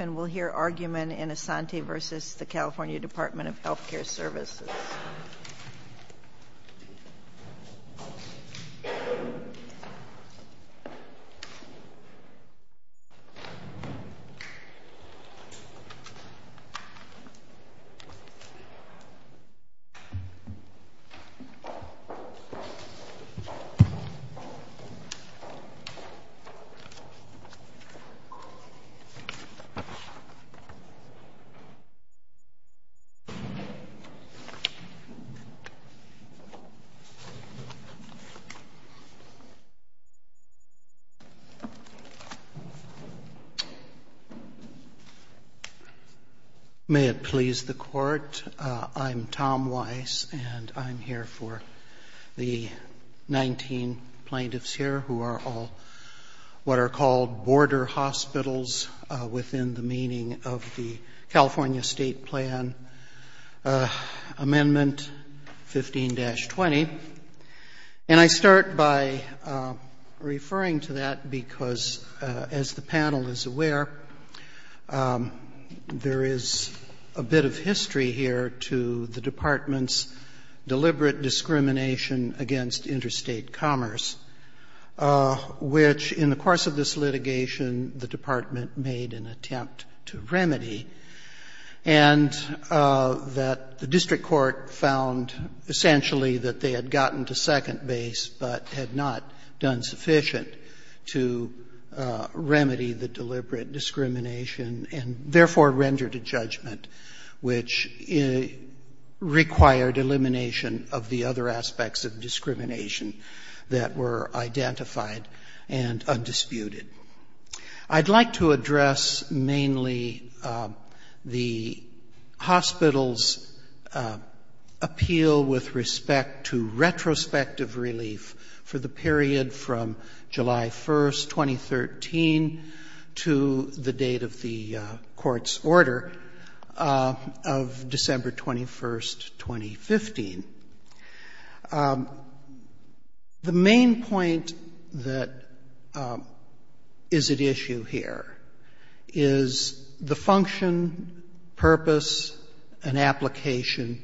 and we'll hear argument in Asante v. California Dept. of Health Care Services. May it please the Court, I'm Tom Weiss and I'm here for the 19 plaintiffs here who are all what are called border hospitals within the meaning of the California State Plan Amendment 15-20. And I start by referring to that because as the panel is aware, there is a bit of history here to the department's deliberate discrimination against interstate commerce which in the course of this litigation the department made an attempt to remedy. And that the district court found essentially that they had gotten to second base but had not done sufficient to remedy the deliberate discrimination and therefore rendered a judgment which required elimination of the other aspects of discrimination that were identified and undisputed. I'd like to address mainly the hospital's appeal with respect to retrospective relief for the district court from July 1st, 2013 to the date of the court's order of December 21st, 2015. The main point that is at issue here is the function, purpose, and application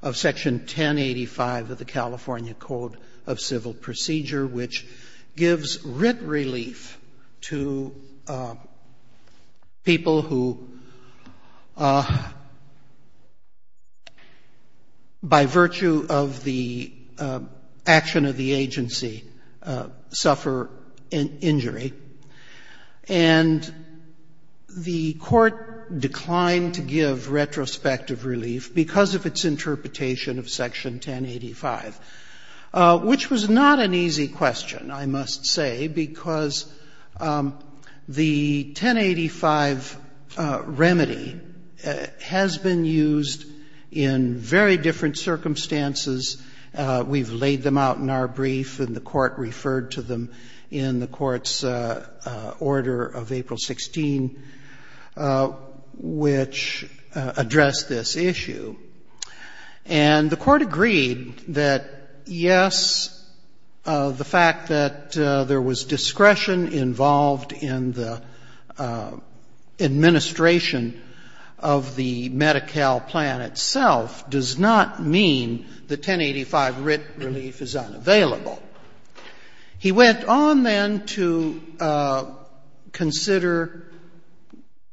of Section 1085 of the California Code of Civil Procedure which gives writ relief to people who by virtue of the action of the agency suffer an injury. And the court declined to give retrospective relief because of its interpretation of Section 1085, which was not an easy question, I must say, because the 1085 remedy has been used in very different circumstances. We've laid them out in our brief and the court referred to them in the court's order of April 2016 which addressed this issue. And the court agreed that, yes, the fact that there was discretion involved in the administration of the Medi-Cal plan itself does not mean that 1085 writ relief is unavailable. He went on then to consider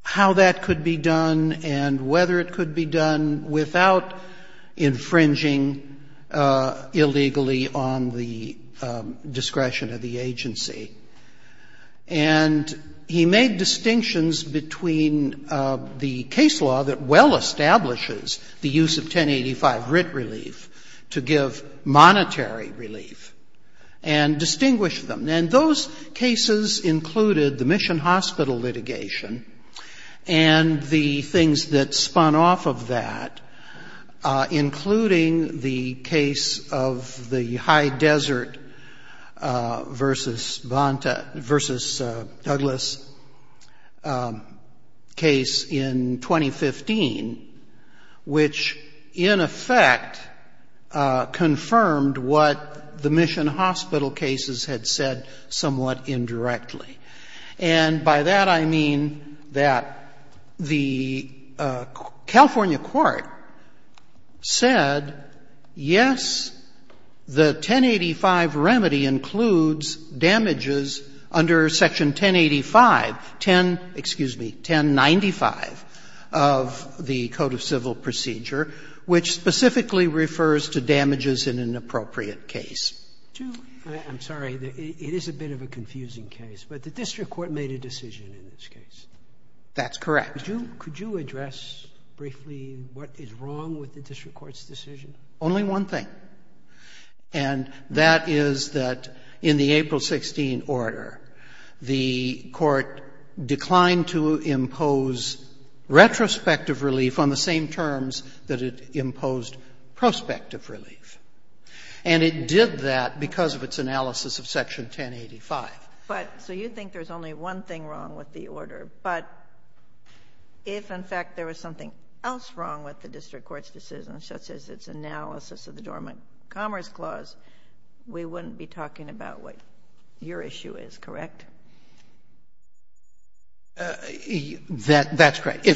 how that could be done and whether it could be done without infringing illegally on the discretion of the agency. And he made distinctions between the case law that well establishes the use of 1085 writ relief to give monetary relief and distinguished them. And those cases included the Mission Hospital litigation and the things that spun off of that, including the case of the High Desert versus Douglas case in 2015, which in effect confirmed what the Mission Hospital cases had said somewhat indirectly. And by that I mean that the California court said, yes, the 1085 remedy includes damages under Section 1085, 10, excuse me, 1095 of the Code of Civil Procedure, which specifically refers to damages in an appropriate case. I'm sorry, it is a bit of a confusing case, but the district court made a decision in this case. That's correct. Could you address briefly what is wrong with the district court's decision? Only one thing. And that is that in the April 16 order, the court declined to impose retrospective relief on the same terms that it imposed prospective relief. And it did that because of its analysis of Section 1085. But so you think there's only one thing wrong with the order, but if in fact there was something else wrong with the district court's decision, such as its analysis of the Dormant Commerce Clause, we wouldn't be talking about what your issue is, correct? That's correct.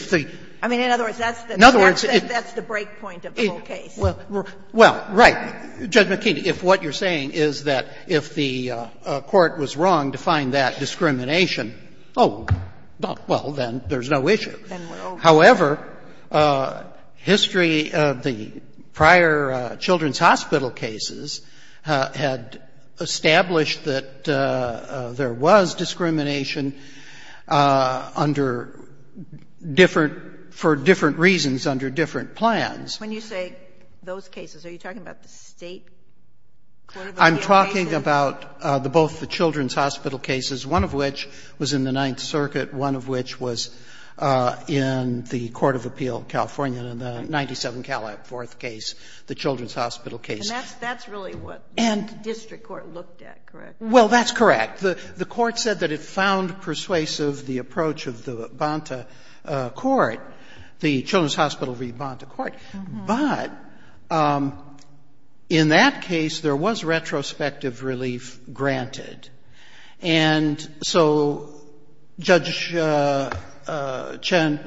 I mean, in other words, that's the break point of the whole case. Well, right. Judge McKinney, if what you're saying is that if the court was wrong to find that discrimination, oh, well, then there's no issue. Then we're over. However, history of the prior children's hospital cases had established that there was discrimination under different — for different reasons under different plans. When you say those cases, are you talking about the State Court of Appeals? I'm talking about both the children's hospital cases, one of which was in the Ninth Circuit, one of which was in the Court of Appeal, California, in the 97 Calab Fourth case, the children's hospital case. And that's really what the district court looked at, correct? Well, that's correct. The court said that it found persuasive the approach of the children's hospital rebond to court. But in that case, there was retrospective relief granted. And so Judge Chen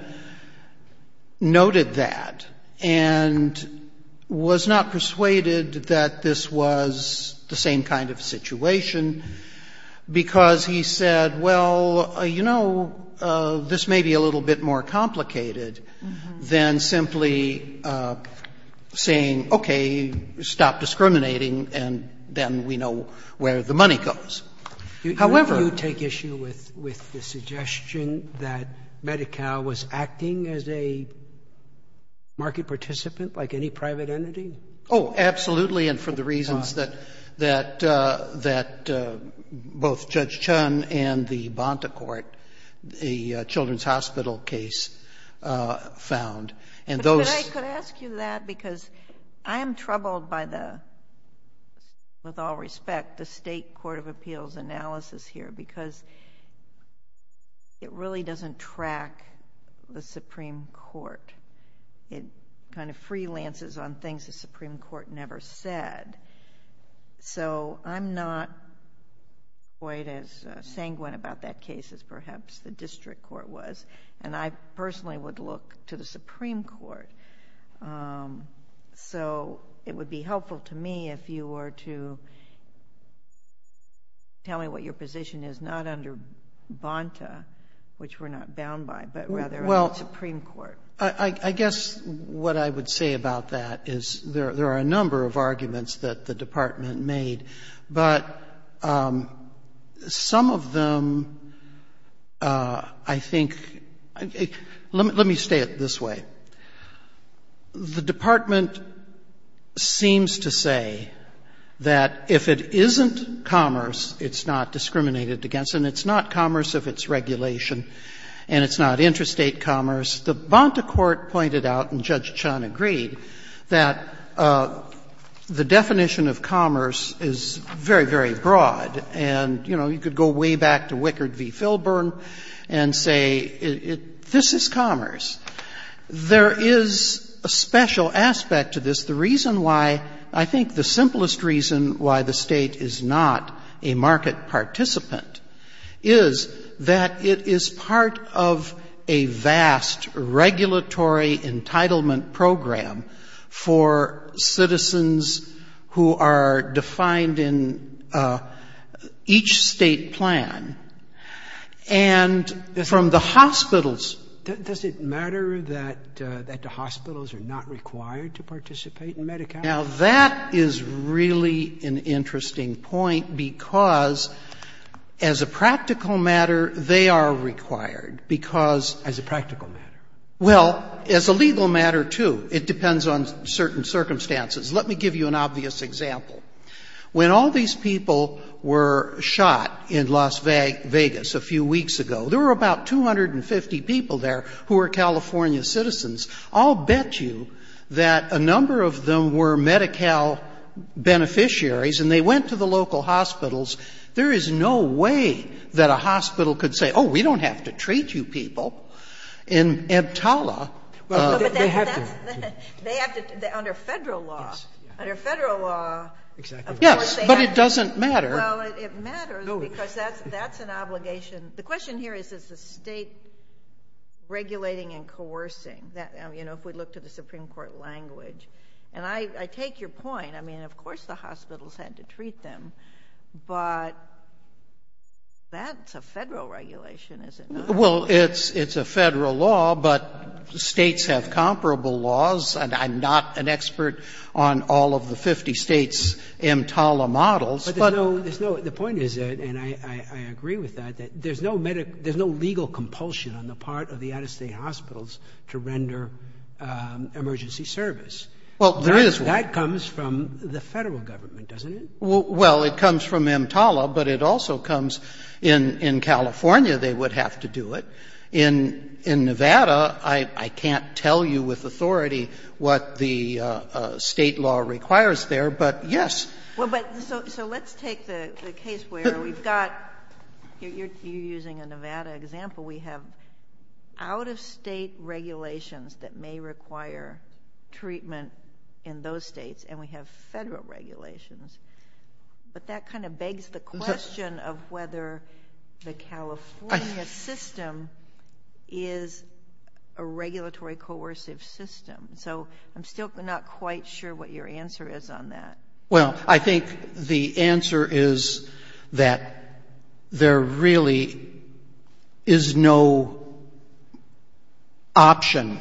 noted that and was not persuaded that this was the same kind of situation because he said, well, you know, this may be a little bit more complicated than simply saying, okay, stop discriminating, and then we know where the money goes. However — Do you take issue with the suggestion that Medi-Cal was acting as a market participant like any private entity? Oh, absolutely. And for the reasons that both Judge Chen and the Bonta Court, the children's hospital case found, and those — But I could ask you that because I am troubled by the, with all respect, the State Court of Appeals analysis here because it really doesn't track the Supreme Court. It kind of freelances on things the Supreme Court never said. So I'm not quite as sanguine about that case as perhaps the district court was. And I personally would look to the Supreme Court. So it would be helpful to me if you were to tell me what your position is, not under Bonta, which we're not bound by, but rather on the Supreme Court. I guess what I would say about that is there are a number of arguments that the Department made, but some of them I think — let me say it this way. The Department seems to say that if it isn't commerce, it's not discriminated against, and it's not commerce if it's regulation, and it's not interstate commerce. The Bonta Court pointed out, and Judge Chun agreed, that the definition of commerce is very, very broad. And, you know, you could go way back to Wickard v. Filburn and say this is commerce. There is a special aspect to this. The reason why — I think the simplest reason why the State is not a market participant is that it is part of a vast regulatory entitlement program for citizens who are defined in each State plan. And from the hospitals — Does it matter that the hospitals are not required to participate in Medicare? Now, that is really an interesting point, because as a practical matter, they are required, because — As a practical matter. Well, as a legal matter, too. It depends on certain circumstances. Let me give you an obvious example. When all these people were shot in Las Vegas a few weeks ago, there were about 250 people there who were California citizens. I'll bet you that a number of them were Medi-Cal beneficiaries, and they went to the local hospitals. There is no way that a hospital could say, oh, we don't have to treat you people in Entala. Well, but they have to. They have to under Federal law. Yes. Under Federal law. Exactly right. Yes, but it doesn't matter. Well, it matters because that's an obligation. The question here is, is the state regulating and coercing? You know, if we look to the Supreme Court language. And I take your point. I mean, of course the hospitals had to treat them, but that's a Federal regulation, is it not? Well, it's a Federal law, but states have comparable laws, and I'm not an expert on all of the 50 states' Entala models. But the point is, and I agree with that, that there's no legal compulsion on the part of the out-of-state hospitals to render emergency service. Well, there is one. That comes from the Federal government, doesn't it? Well, it comes from Entala, but it also comes in California, they would have to do it. In Nevada, I can't tell you with authority what the state law requires there, but yes. So let's take the case where we've got, you're using a Nevada example, we have out-of-state regulations that may require treatment in those states, and we have Federal regulations. But that kind of begs the question of whether the California system is a regulatory coercive system. So I'm still not quite sure what your answer is on that. Well, I think the answer is that there really is no option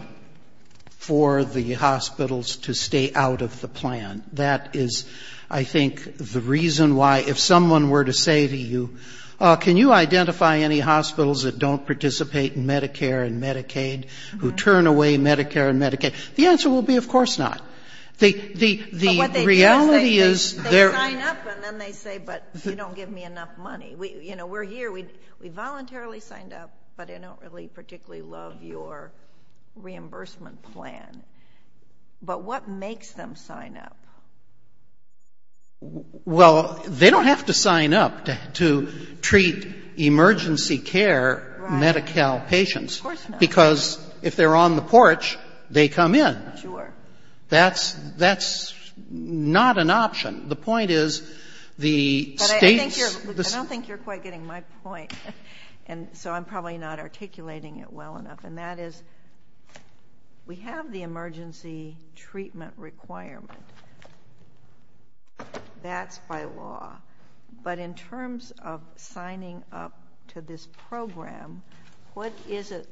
for the hospitals to stay out of the plan. That is, I think, the reason why, if someone were to say to you, can you identify any hospitals that don't participate in Medicare and Medicaid, who turn away Medicare and Medicaid? The answer will be, of course not. But what they do is they sign up and then they say, but you don't give me enough money. You know, we're here, we voluntarily signed up, but I don't really particularly love your reimbursement plan. But what makes them sign up? Well, they don't have to sign up to treat emergency care Medi-Cal patients. Of course not. Because if they're on the porch, they come in. I'm not sure. That's not an option. The point is, the States I don't think you're quite getting my point. And so I'm probably not articulating it well enough. And that is, we have the emergency treatment requirement. That's by law. But in terms of signing up to this program, what is it?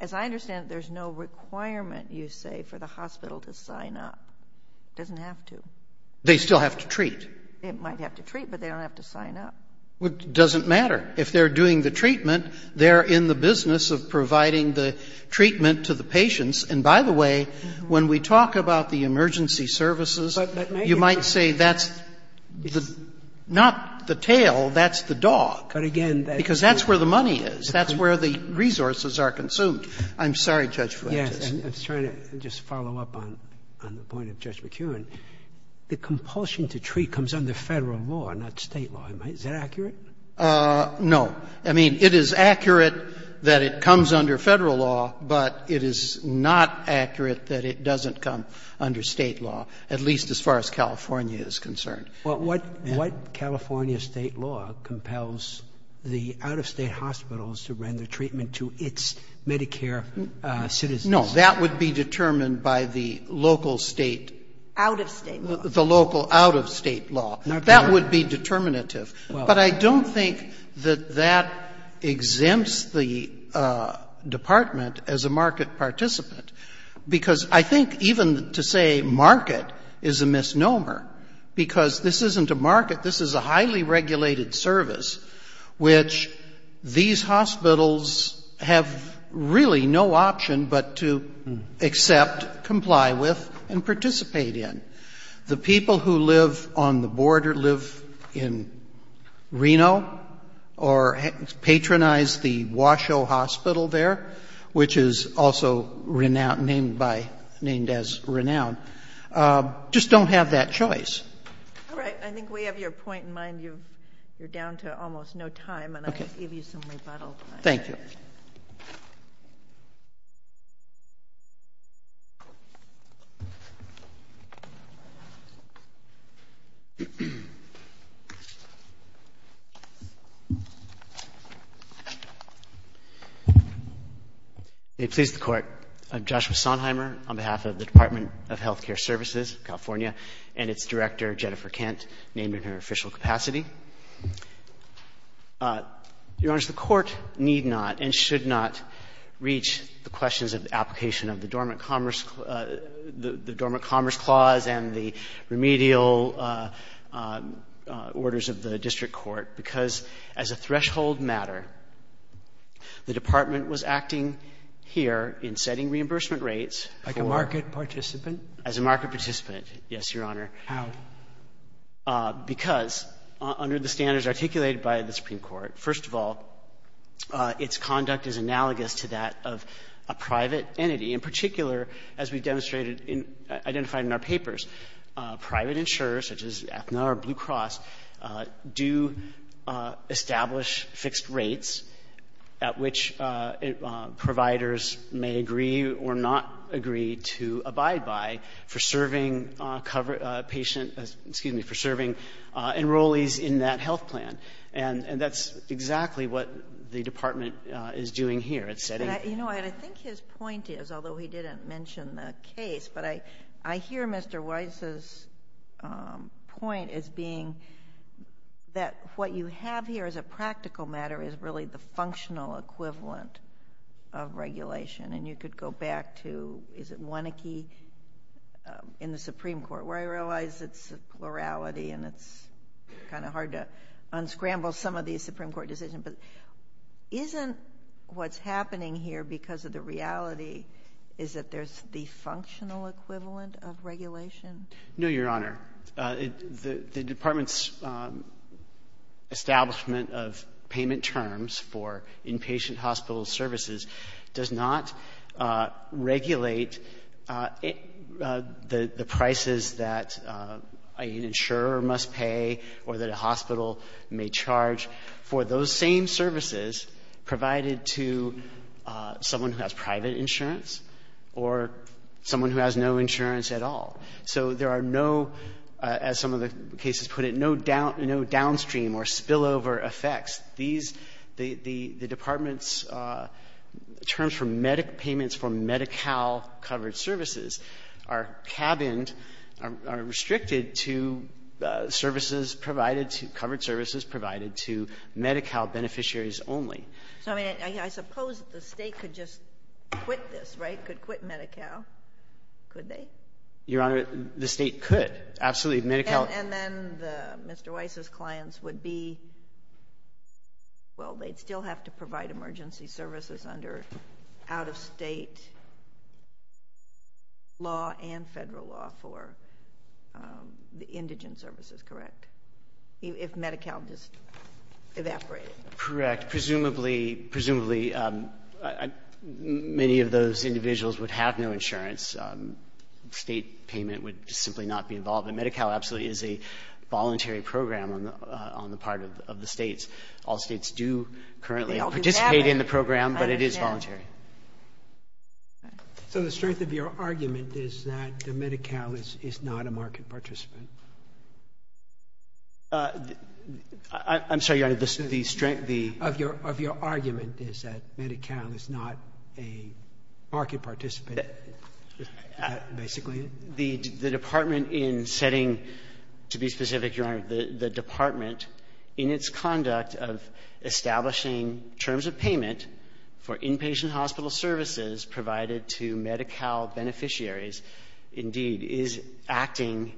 As I understand it, there's no requirement, you say, for the hospital to sign up. It doesn't have to. They still have to treat. They might have to treat, but they don't have to sign up. It doesn't matter. If they're doing the treatment, they're in the business of providing the treatment to the patients. And by the way, when we talk about the emergency services, you might say that's not the tail, that's the dog. Because that's where the money is. That's where the resources are consumed. I'm sorry, Judge Fletcher. Yes. I was trying to just follow up on the point of Judge McKeown. The compulsion to treat comes under Federal law, not State law. Is that accurate? No. I mean, it is accurate that it comes under Federal law, but it is not accurate that it doesn't come under State law, at least as far as California is concerned. Well, what California State law compels the out-of-State hospitals to render treatment to its Medicare citizens? No, that would be determined by the local State... Out-of-State law. The local out-of-State law. That would be determinative. But I don't think that that exempts the Department as a market participant. Because I think even to say market is a misnomer, because this isn't a market, this is a highly regulated service, which these hospitals have really no option but to accept, comply with, and participate in. The people who live on the border live in Reno or patronize the Washoe Hospital there, which is also named as Renown, just don't have that choice. All right. I think we have your point in mind. You're down to almost no time, and I'll give you some rebuttal. Thank you. May it please the Court. I'm Joshua Sonheimer on behalf of the Department of Health Care Services, California, and its Director, Jennifer Kent, named in her official capacity. Your Honors, the Court need not and should not reach the questions of the application of the Dormant Commerce Clause and the remedial orders of the District Court because as a threshold matter, the Department was acting here in setting reimbursement rates Like a market participant? As a market participant, yes, Your Honor. How? Because under the standards articulated by the Supreme Court, first of all, its conduct is analogous to that of a private entity. In particular, as we've demonstrated and identified in our papers, private insurers such as Aetna or Blue Cross do establish fixed rates at which providers may agree or not agree to abide by for serving enrollees in that health plan. And that's exactly what the Department is doing here. I think his point is, although he didn't mention the case, but I hear Mr. Weiss's point as being that what you have here as a practical matter is really the functional equivalent of regulation. And you could go back to, is it Wanneke? In the Supreme Court, where I realize it's a plurality and it's kind of hard to unscramble some of these Supreme Court decisions, but isn't what's happening here because of the reality is that there's the functional equivalent of regulation? No, Your Honor. The Department's establishment of payment terms for inpatient hospital services does not regulate the prices that an insurer must pay or that a hospital may charge for those same services provided to someone who has private insurance or someone who has no insurance at all. So there are no, as some of the cases put it, no downstream or spillover effects. These, the Department's terms for medical payments for Medi-Cal covered services are cabined, are restricted to services provided, covered services provided to Medi-Cal beneficiaries only. So, I mean, I suppose the State could just quit this, right? Could quit Medi-Cal, could they? Your Honor, the State could, absolutely. And then Mr. Weiss's clients would be, well, they'd still have to provide emergency services under out-of-state law and federal law for the indigent services, correct? If Medi-Cal just evaporated. Correct. Presumably, many of those individuals would have no insurance. State payment would simply not be involved. And Medi-Cal absolutely is a voluntary program on the part of the States. All States do currently participate in the program, but it is voluntary. So the strength of your argument is that Medi-Cal is not a market participant? I'm sorry, Your Honor, the strength of your argument is that Medi-Cal is not a market participant, basically? The Department in setting, to be specific, Your Honor, the Department in its conduct of establishing terms of payment for inpatient hospital services provided to Medi-Cal beneficiaries, indeed, is acting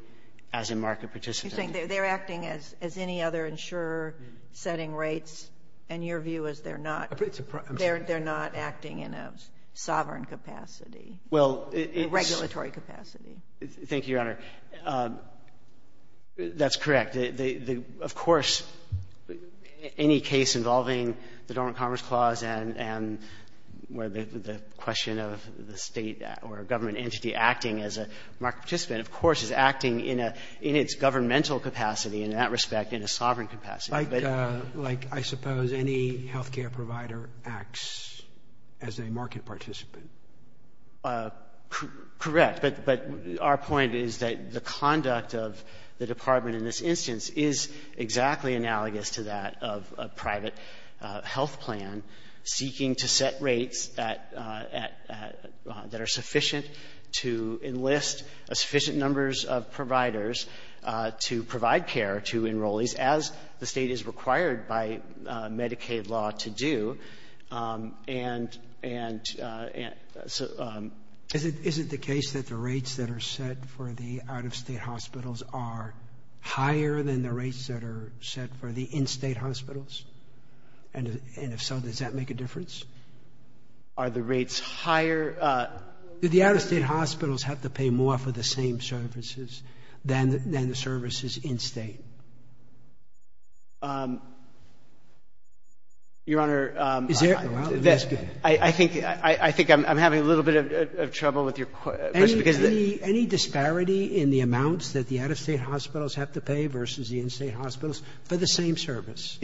as a market participant. You're saying they're acting as any other insurer setting rates, and your view is they're not? I'm sorry. They're not acting in a sovereign capacity, a regulatory capacity? Thank you, Your Honor. That's correct. Of course, any case involving the Dormant Commerce Clause and where the question of the State or a government entity acting as a market participant, of course, is acting in its governmental capacity, in that respect, in a sovereign capacity. Like, I suppose, any health care provider acts as a market participant. Correct. But our point is that the conduct of the Department in this instance is exactly analogous to that of a private health plan seeking to set rates that are sufficient to enlist a sufficient number of providers to provide care to enrollees, as the State is required by Medicaid law to do. Is it the case that the rates that are set for the out-of-State hospitals are higher than the rates that are set for the in-State hospitals? And if so, does that make a difference? Are the rates higher? Do the out-of-State hospitals have to pay more for the same services than the services in-State? Your Honor, I think I'm having a little bit of trouble with your question. Any disparity in the amounts that the out-of-State hospitals have to pay versus the in-State hospitals for the same service?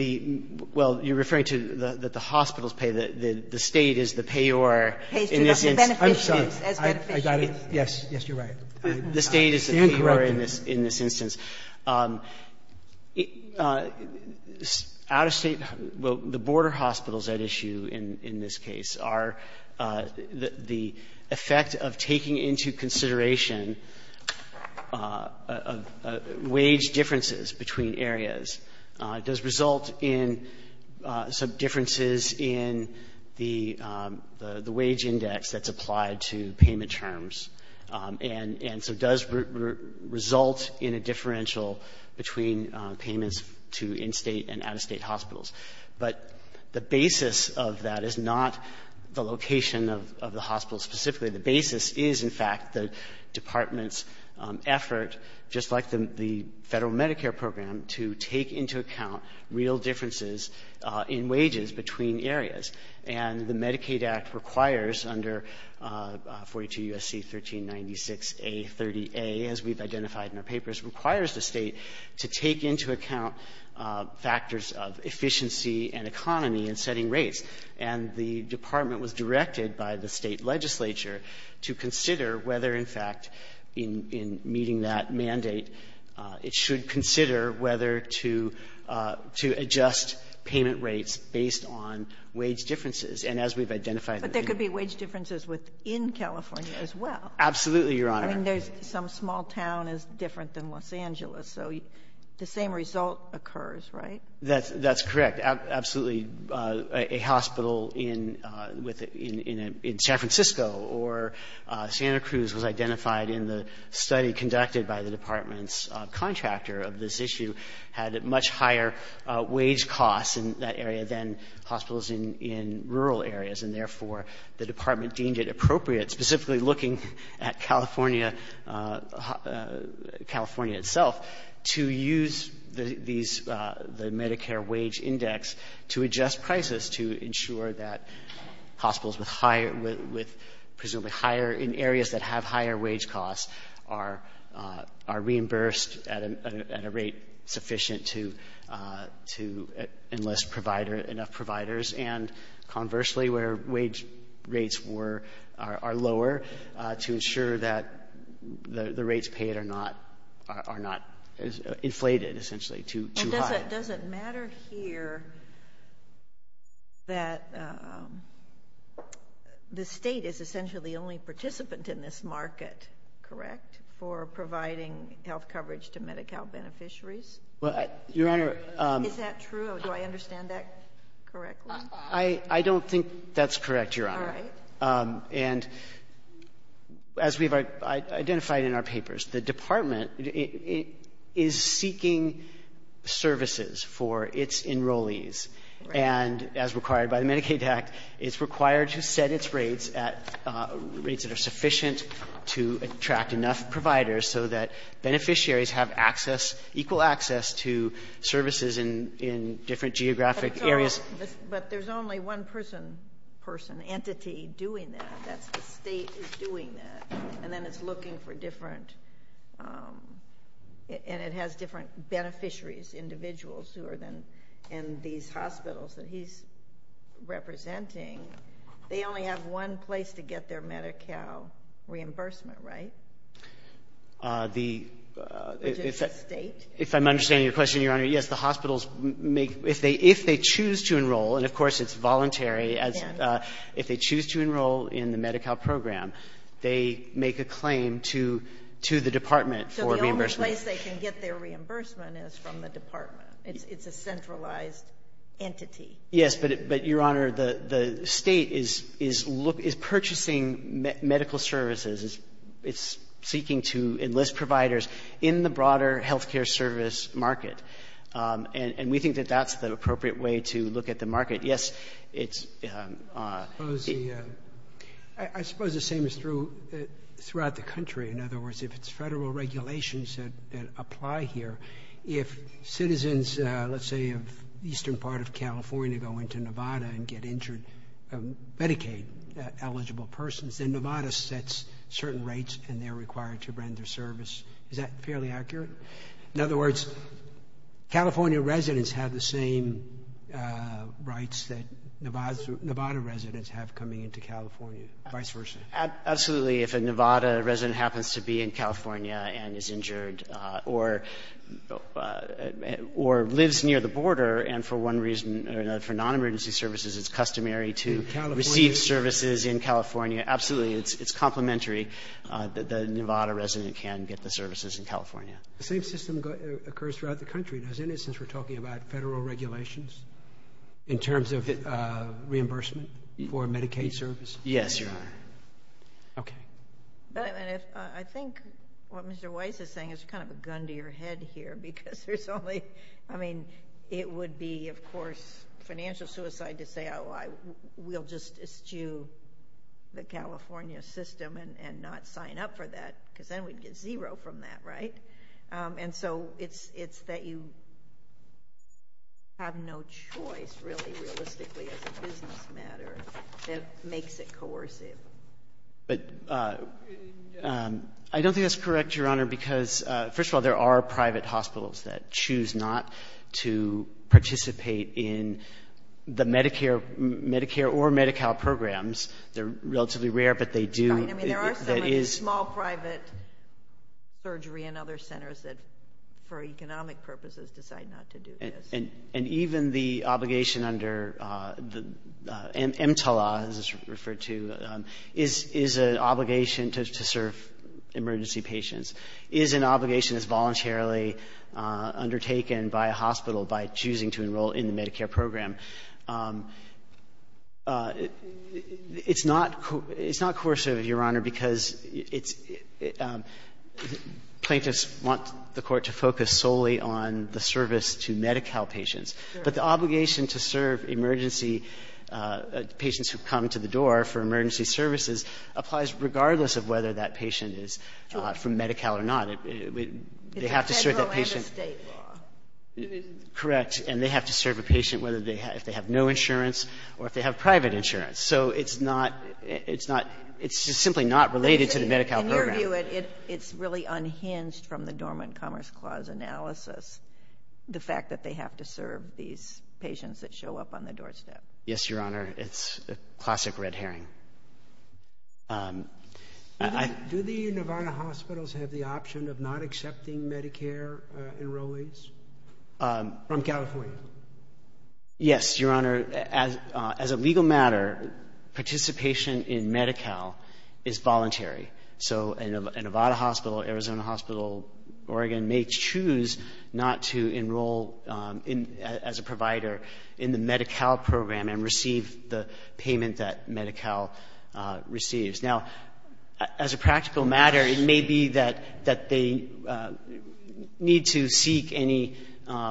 Well, you're referring to that the hospitals pay. The State is the payor in this instance. I'm sorry. I got it. Yes, yes, you're right. The State is the payor in this instance. Out-of-State, the border hospitals at issue in this case are the effect of taking into consideration wage differences between areas. Does result in some differences in the wage index that's applied to payment terms and so does result in a differential between payments to in-State and out-of-State hospitals. But the basis of that is not the location of the hospital specifically. The basis is, in fact, the Department's effort, just like the Federal Medicare program, to take into account real differences in wages between areas. And the Medicaid Act requires under 42 U.S.C. 1396A30A, as we've identified in our papers, requires the State to take into account factors of efficiency and economy in setting rates. And the Department was directed by the State legislature to consider whether, in fact, in meeting that mandate, it should consider whether to adjust payment rates based on wage differences. And as we've identified in the case of California. But there could be wage differences within California as well. Absolutely, Your Honor. I mean, there's some small town is different than Los Angeles. So the same result occurs, right? That's correct. Absolutely. A hospital in San Francisco or Santa Cruz was identified in the study conducted by the Department's contractor of this issue, had much higher wage costs in that area than hospitals in rural areas. And therefore, the Department deemed it appropriate, specifically looking at California itself, to use the Medicare wage index to adjust prices to ensure that hospitals with presumably higher, in areas that have higher wage costs, are reimbursed at a rate sufficient to enlist enough providers. And conversely, where wage rates are lower, to ensure that the rates paid are not inflated, essentially, too high. But it doesn't matter here that the State is essentially the only participant in this market, correct, for providing health coverage to Medi-Cal beneficiaries? Your Honor. Is that true? Do I understand that correctly? I don't think that's correct, Your Honor. All right. And as we've identified in our papers, the Department is seeking services for its enrollees. And as required by the Medicaid Act, it's required to set its rates at rates that are sufficient to attract enough providers so that beneficiaries have access, equal access to services in different geographic areas. But there's only one person, entity, doing that. That's the State doing that. And then it's looking for different, and it has different beneficiaries, individuals who are in these hospitals that he's representing. They only have one place to get their Medi-Cal reimbursement, right? Which is the State? If I'm understanding your question, Your Honor, yes. The hospitals, if they choose to enroll, and, of course, it's voluntary, if they choose to enroll in the Medi-Cal program, they make a claim to the Department for reimbursement. So the only place they can get their reimbursement is from the Department. It's a centralized entity. Yes, but, Your Honor, the State is purchasing medical services. It's seeking to enlist providers in the broader health care service market. And we think that that's the appropriate way to look at the market. Yes, it's the. I suppose the same is true throughout the country. In other words, if it's federal regulations that apply here, if citizens, let's say, of the eastern part of California go into Nevada and get injured, Medicaid-eligible persons, then Nevada sets certain rates, and they're required to render service. Is that fairly accurate? In other words, California residents have the same rights that Nevada residents have coming into California, vice versa. Absolutely. If a Nevada resident happens to be in California and is injured or lives near the border, and for one reason or another, for non-emergency services, it's customary to receive services in California, absolutely. It's complementary that the Nevada resident can get the services in California. The same system occurs throughout the country, doesn't it, since we're talking about federal regulations in terms of reimbursement for Medicaid services? Yes, Your Honor. Okay. I think what Mr. Weiss is saying is kind of a gun to your head here because there's only, I mean, it would be, of course, financial suicide to say, oh, we'll just eschew the California system and not sign up for that, because then we'd get zero from that, right? And so it's that you have no choice, really, realistically, as a business matter that makes it coercive. But I don't think that's correct, Your Honor, because, first of all, there are private hospitals that choose not to participate in the Medicare or Medi-Cal programs. They're relatively rare, but they do. Right. I mean, there are so many small private surgery and other centers that, for economic purposes, decide not to do this. And even the obligation under the EMTLA, as it's referred to, is an obligation to serve emergency patients, is an obligation that's voluntarily undertaken by a hospital by choosing to enroll in the Medicare program. It's not coercive, Your Honor, because it's — plaintiffs want the Court to focus solely on the service to Medi-Cal patients. But the obligation to serve emergency patients who come to the door for emergency services applies regardless of whether that patient is from Medi-Cal or not. They have to serve that patient. It's a federal and a state law. Correct. And they have to serve a patient whether they have — if they have no insurance or if they have private insurance. So it's not — it's not — it's just simply not related to the Medi-Cal program. In your view, it's really unhinged from the Dormant Commerce Clause analysis, the fact that they have to serve these patients that show up on the doorstep. Yes, Your Honor. It's a classic red herring. Do the Nevada hospitals have the option of not accepting Medicare enrollees from California? Yes, Your Honor. As a legal matter, participation in Medi-Cal is voluntary. So a Nevada hospital, Arizona hospital, Oregon may choose not to enroll as a provider in the Medi-Cal program and receive the payment that Medi-Cal receives. Now, as a practical matter, it may be that they need to seek any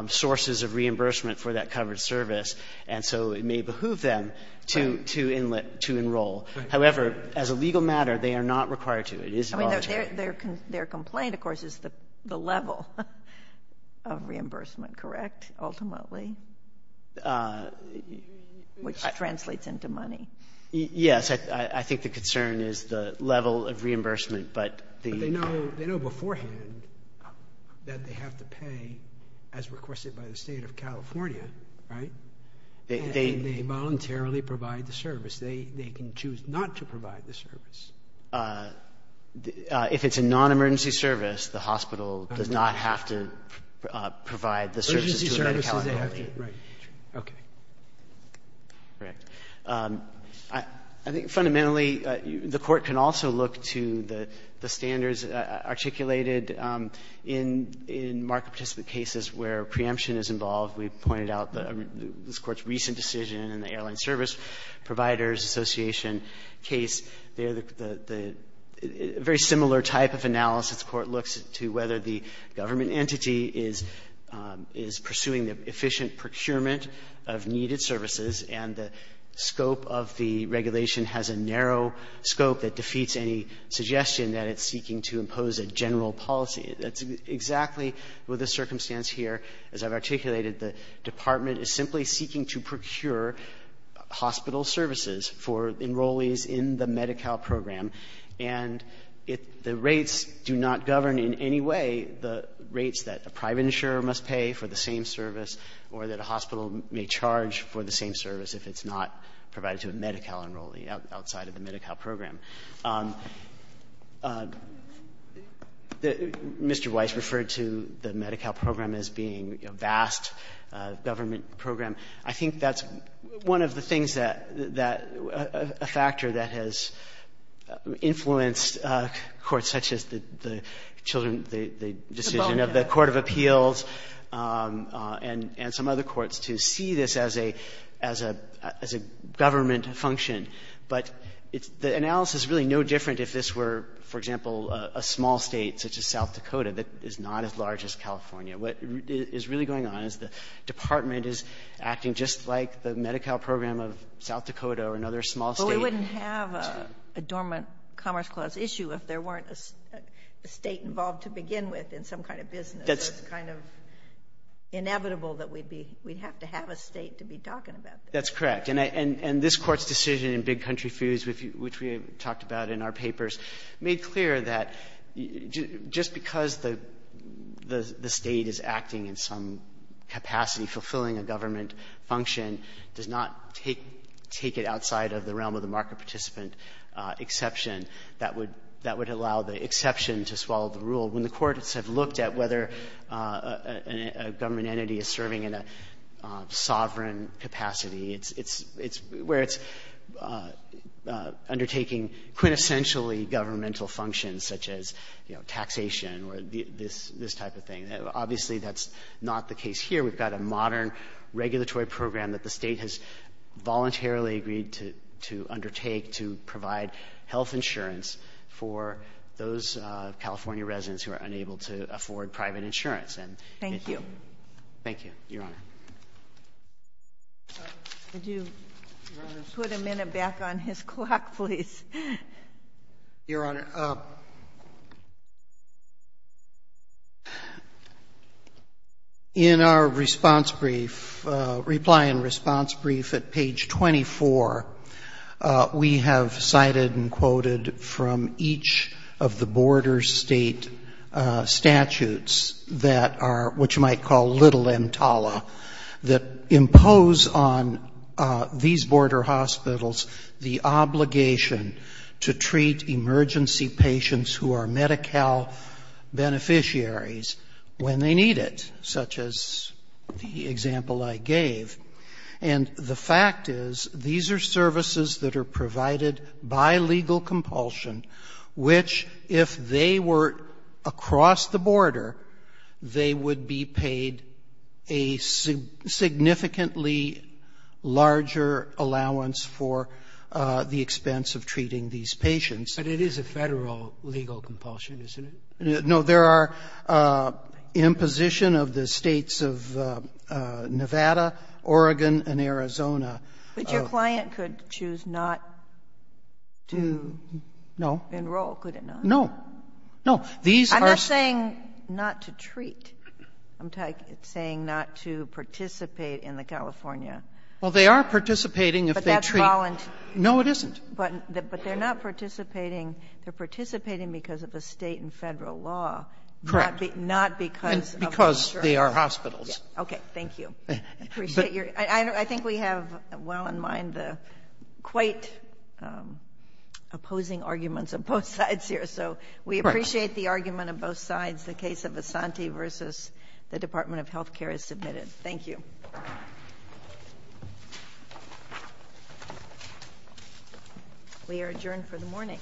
sources of reimbursement for that covered service, and so it may behoove them to enroll. However, as a legal matter, they are not required to. It is voluntary. Their complaint, of course, is the level of reimbursement, correct, ultimately, which translates into money. Yes, I think the concern is the level of reimbursement, but the — But they know beforehand that they have to pay as requested by the State of California, right? They voluntarily provide the service. They can choose not to provide the service. If it's a non-emergency service, the hospital does not have to provide the services to a Medi-Cal employee. Emergency services, they have to, right. Okay. Correct. I think fundamentally, the Court can also look to the standards articulated in market participant cases where preemption is involved. We've pointed out this Court's recent decision in the Airline Service Providers Association case. They're the — a very similar type of analysis. The Court looks to whether the government entity is pursuing the efficient procurement of needed services, and the scope of the regulation has a narrow scope that defeats any suggestion that it's seeking to impose a general policy. That's exactly the circumstance here. As I've articulated, the Department is simply seeking to procure hospital services for enrollees in the Medi-Cal program, and the rates do not govern in any way the rates that a private insurer must pay for the same service or that a hospital may charge for the same service if it's not provided to a Medi-Cal enrollee outside of the Medi-Cal program. Mr. Weiss referred to the Medi-Cal program as being a vast government program. I think that's one of the things that — a factor that has influenced courts such as the children — the decision of the court of appeals and some other courts to see this as a government function. But the analysis is really no different if this were, for example, a small State such as South Dakota that is not as large as California. What is really going on is the Department is acting just like the Medi-Cal program of South Dakota or another small State. But we wouldn't have a dormant Commerce Clause issue if there weren't a State involved to begin with in some kind of business. That's kind of inevitable that we'd be — we'd have to have a State to be talking about this. That's correct. And this Court's decision in Big Country Foods, which we talked about in our papers, made clear that just because the State is acting in some capacity fulfilling a government function does not take it outside of the realm of the market participant exception. That would allow the exception to swallow the rule. When the courts have looked at whether a government entity is serving in a sovereign capacity, it's — it's — where it's undertaking quintessentially governmental functions such as, you know, taxation or this — this type of thing, obviously that's not the case here. We've got a modern regulatory program that the State has voluntarily agreed to — to undertake to provide health insurance for those California residents who are unable to afford private insurance. Thank you. Thank you, Your Honor. Could you put a minute back on his clock, please? Your Honor, in our response brief — reply and response brief at page 24, we have cited and quoted from each of the border State statutes that are what you might call little entala, that impose on these border hospitals the obligation to treat emergency patients who are Medi-Cal beneficiaries when they need it, such as the example I gave. And the fact is these are services that are provided by legal compulsion, which if they were across the border, they would be paid a significantly larger allowance for the expense of treating these patients. But it is a Federal legal compulsion, isn't it? No, there are imposition of the States of Nevada, Oregon, and Arizona. But your client could choose not to enroll, could it not? No. No. I'm not saying not to treat. I'm saying not to participate in the California — Well, they are participating if they treat. But that's voluntary. No, it isn't. But they're not participating — they're participating because of a State and Federal law. Correct. Not because of insurance. And because they are hospitals. Okay, thank you. I appreciate your — I think we have well in mind the quite opposing arguments on both sides here, so we appreciate the argument on both sides. The case of Asante versus the Department of Health Care is submitted. Thank you. We are adjourned for the morning.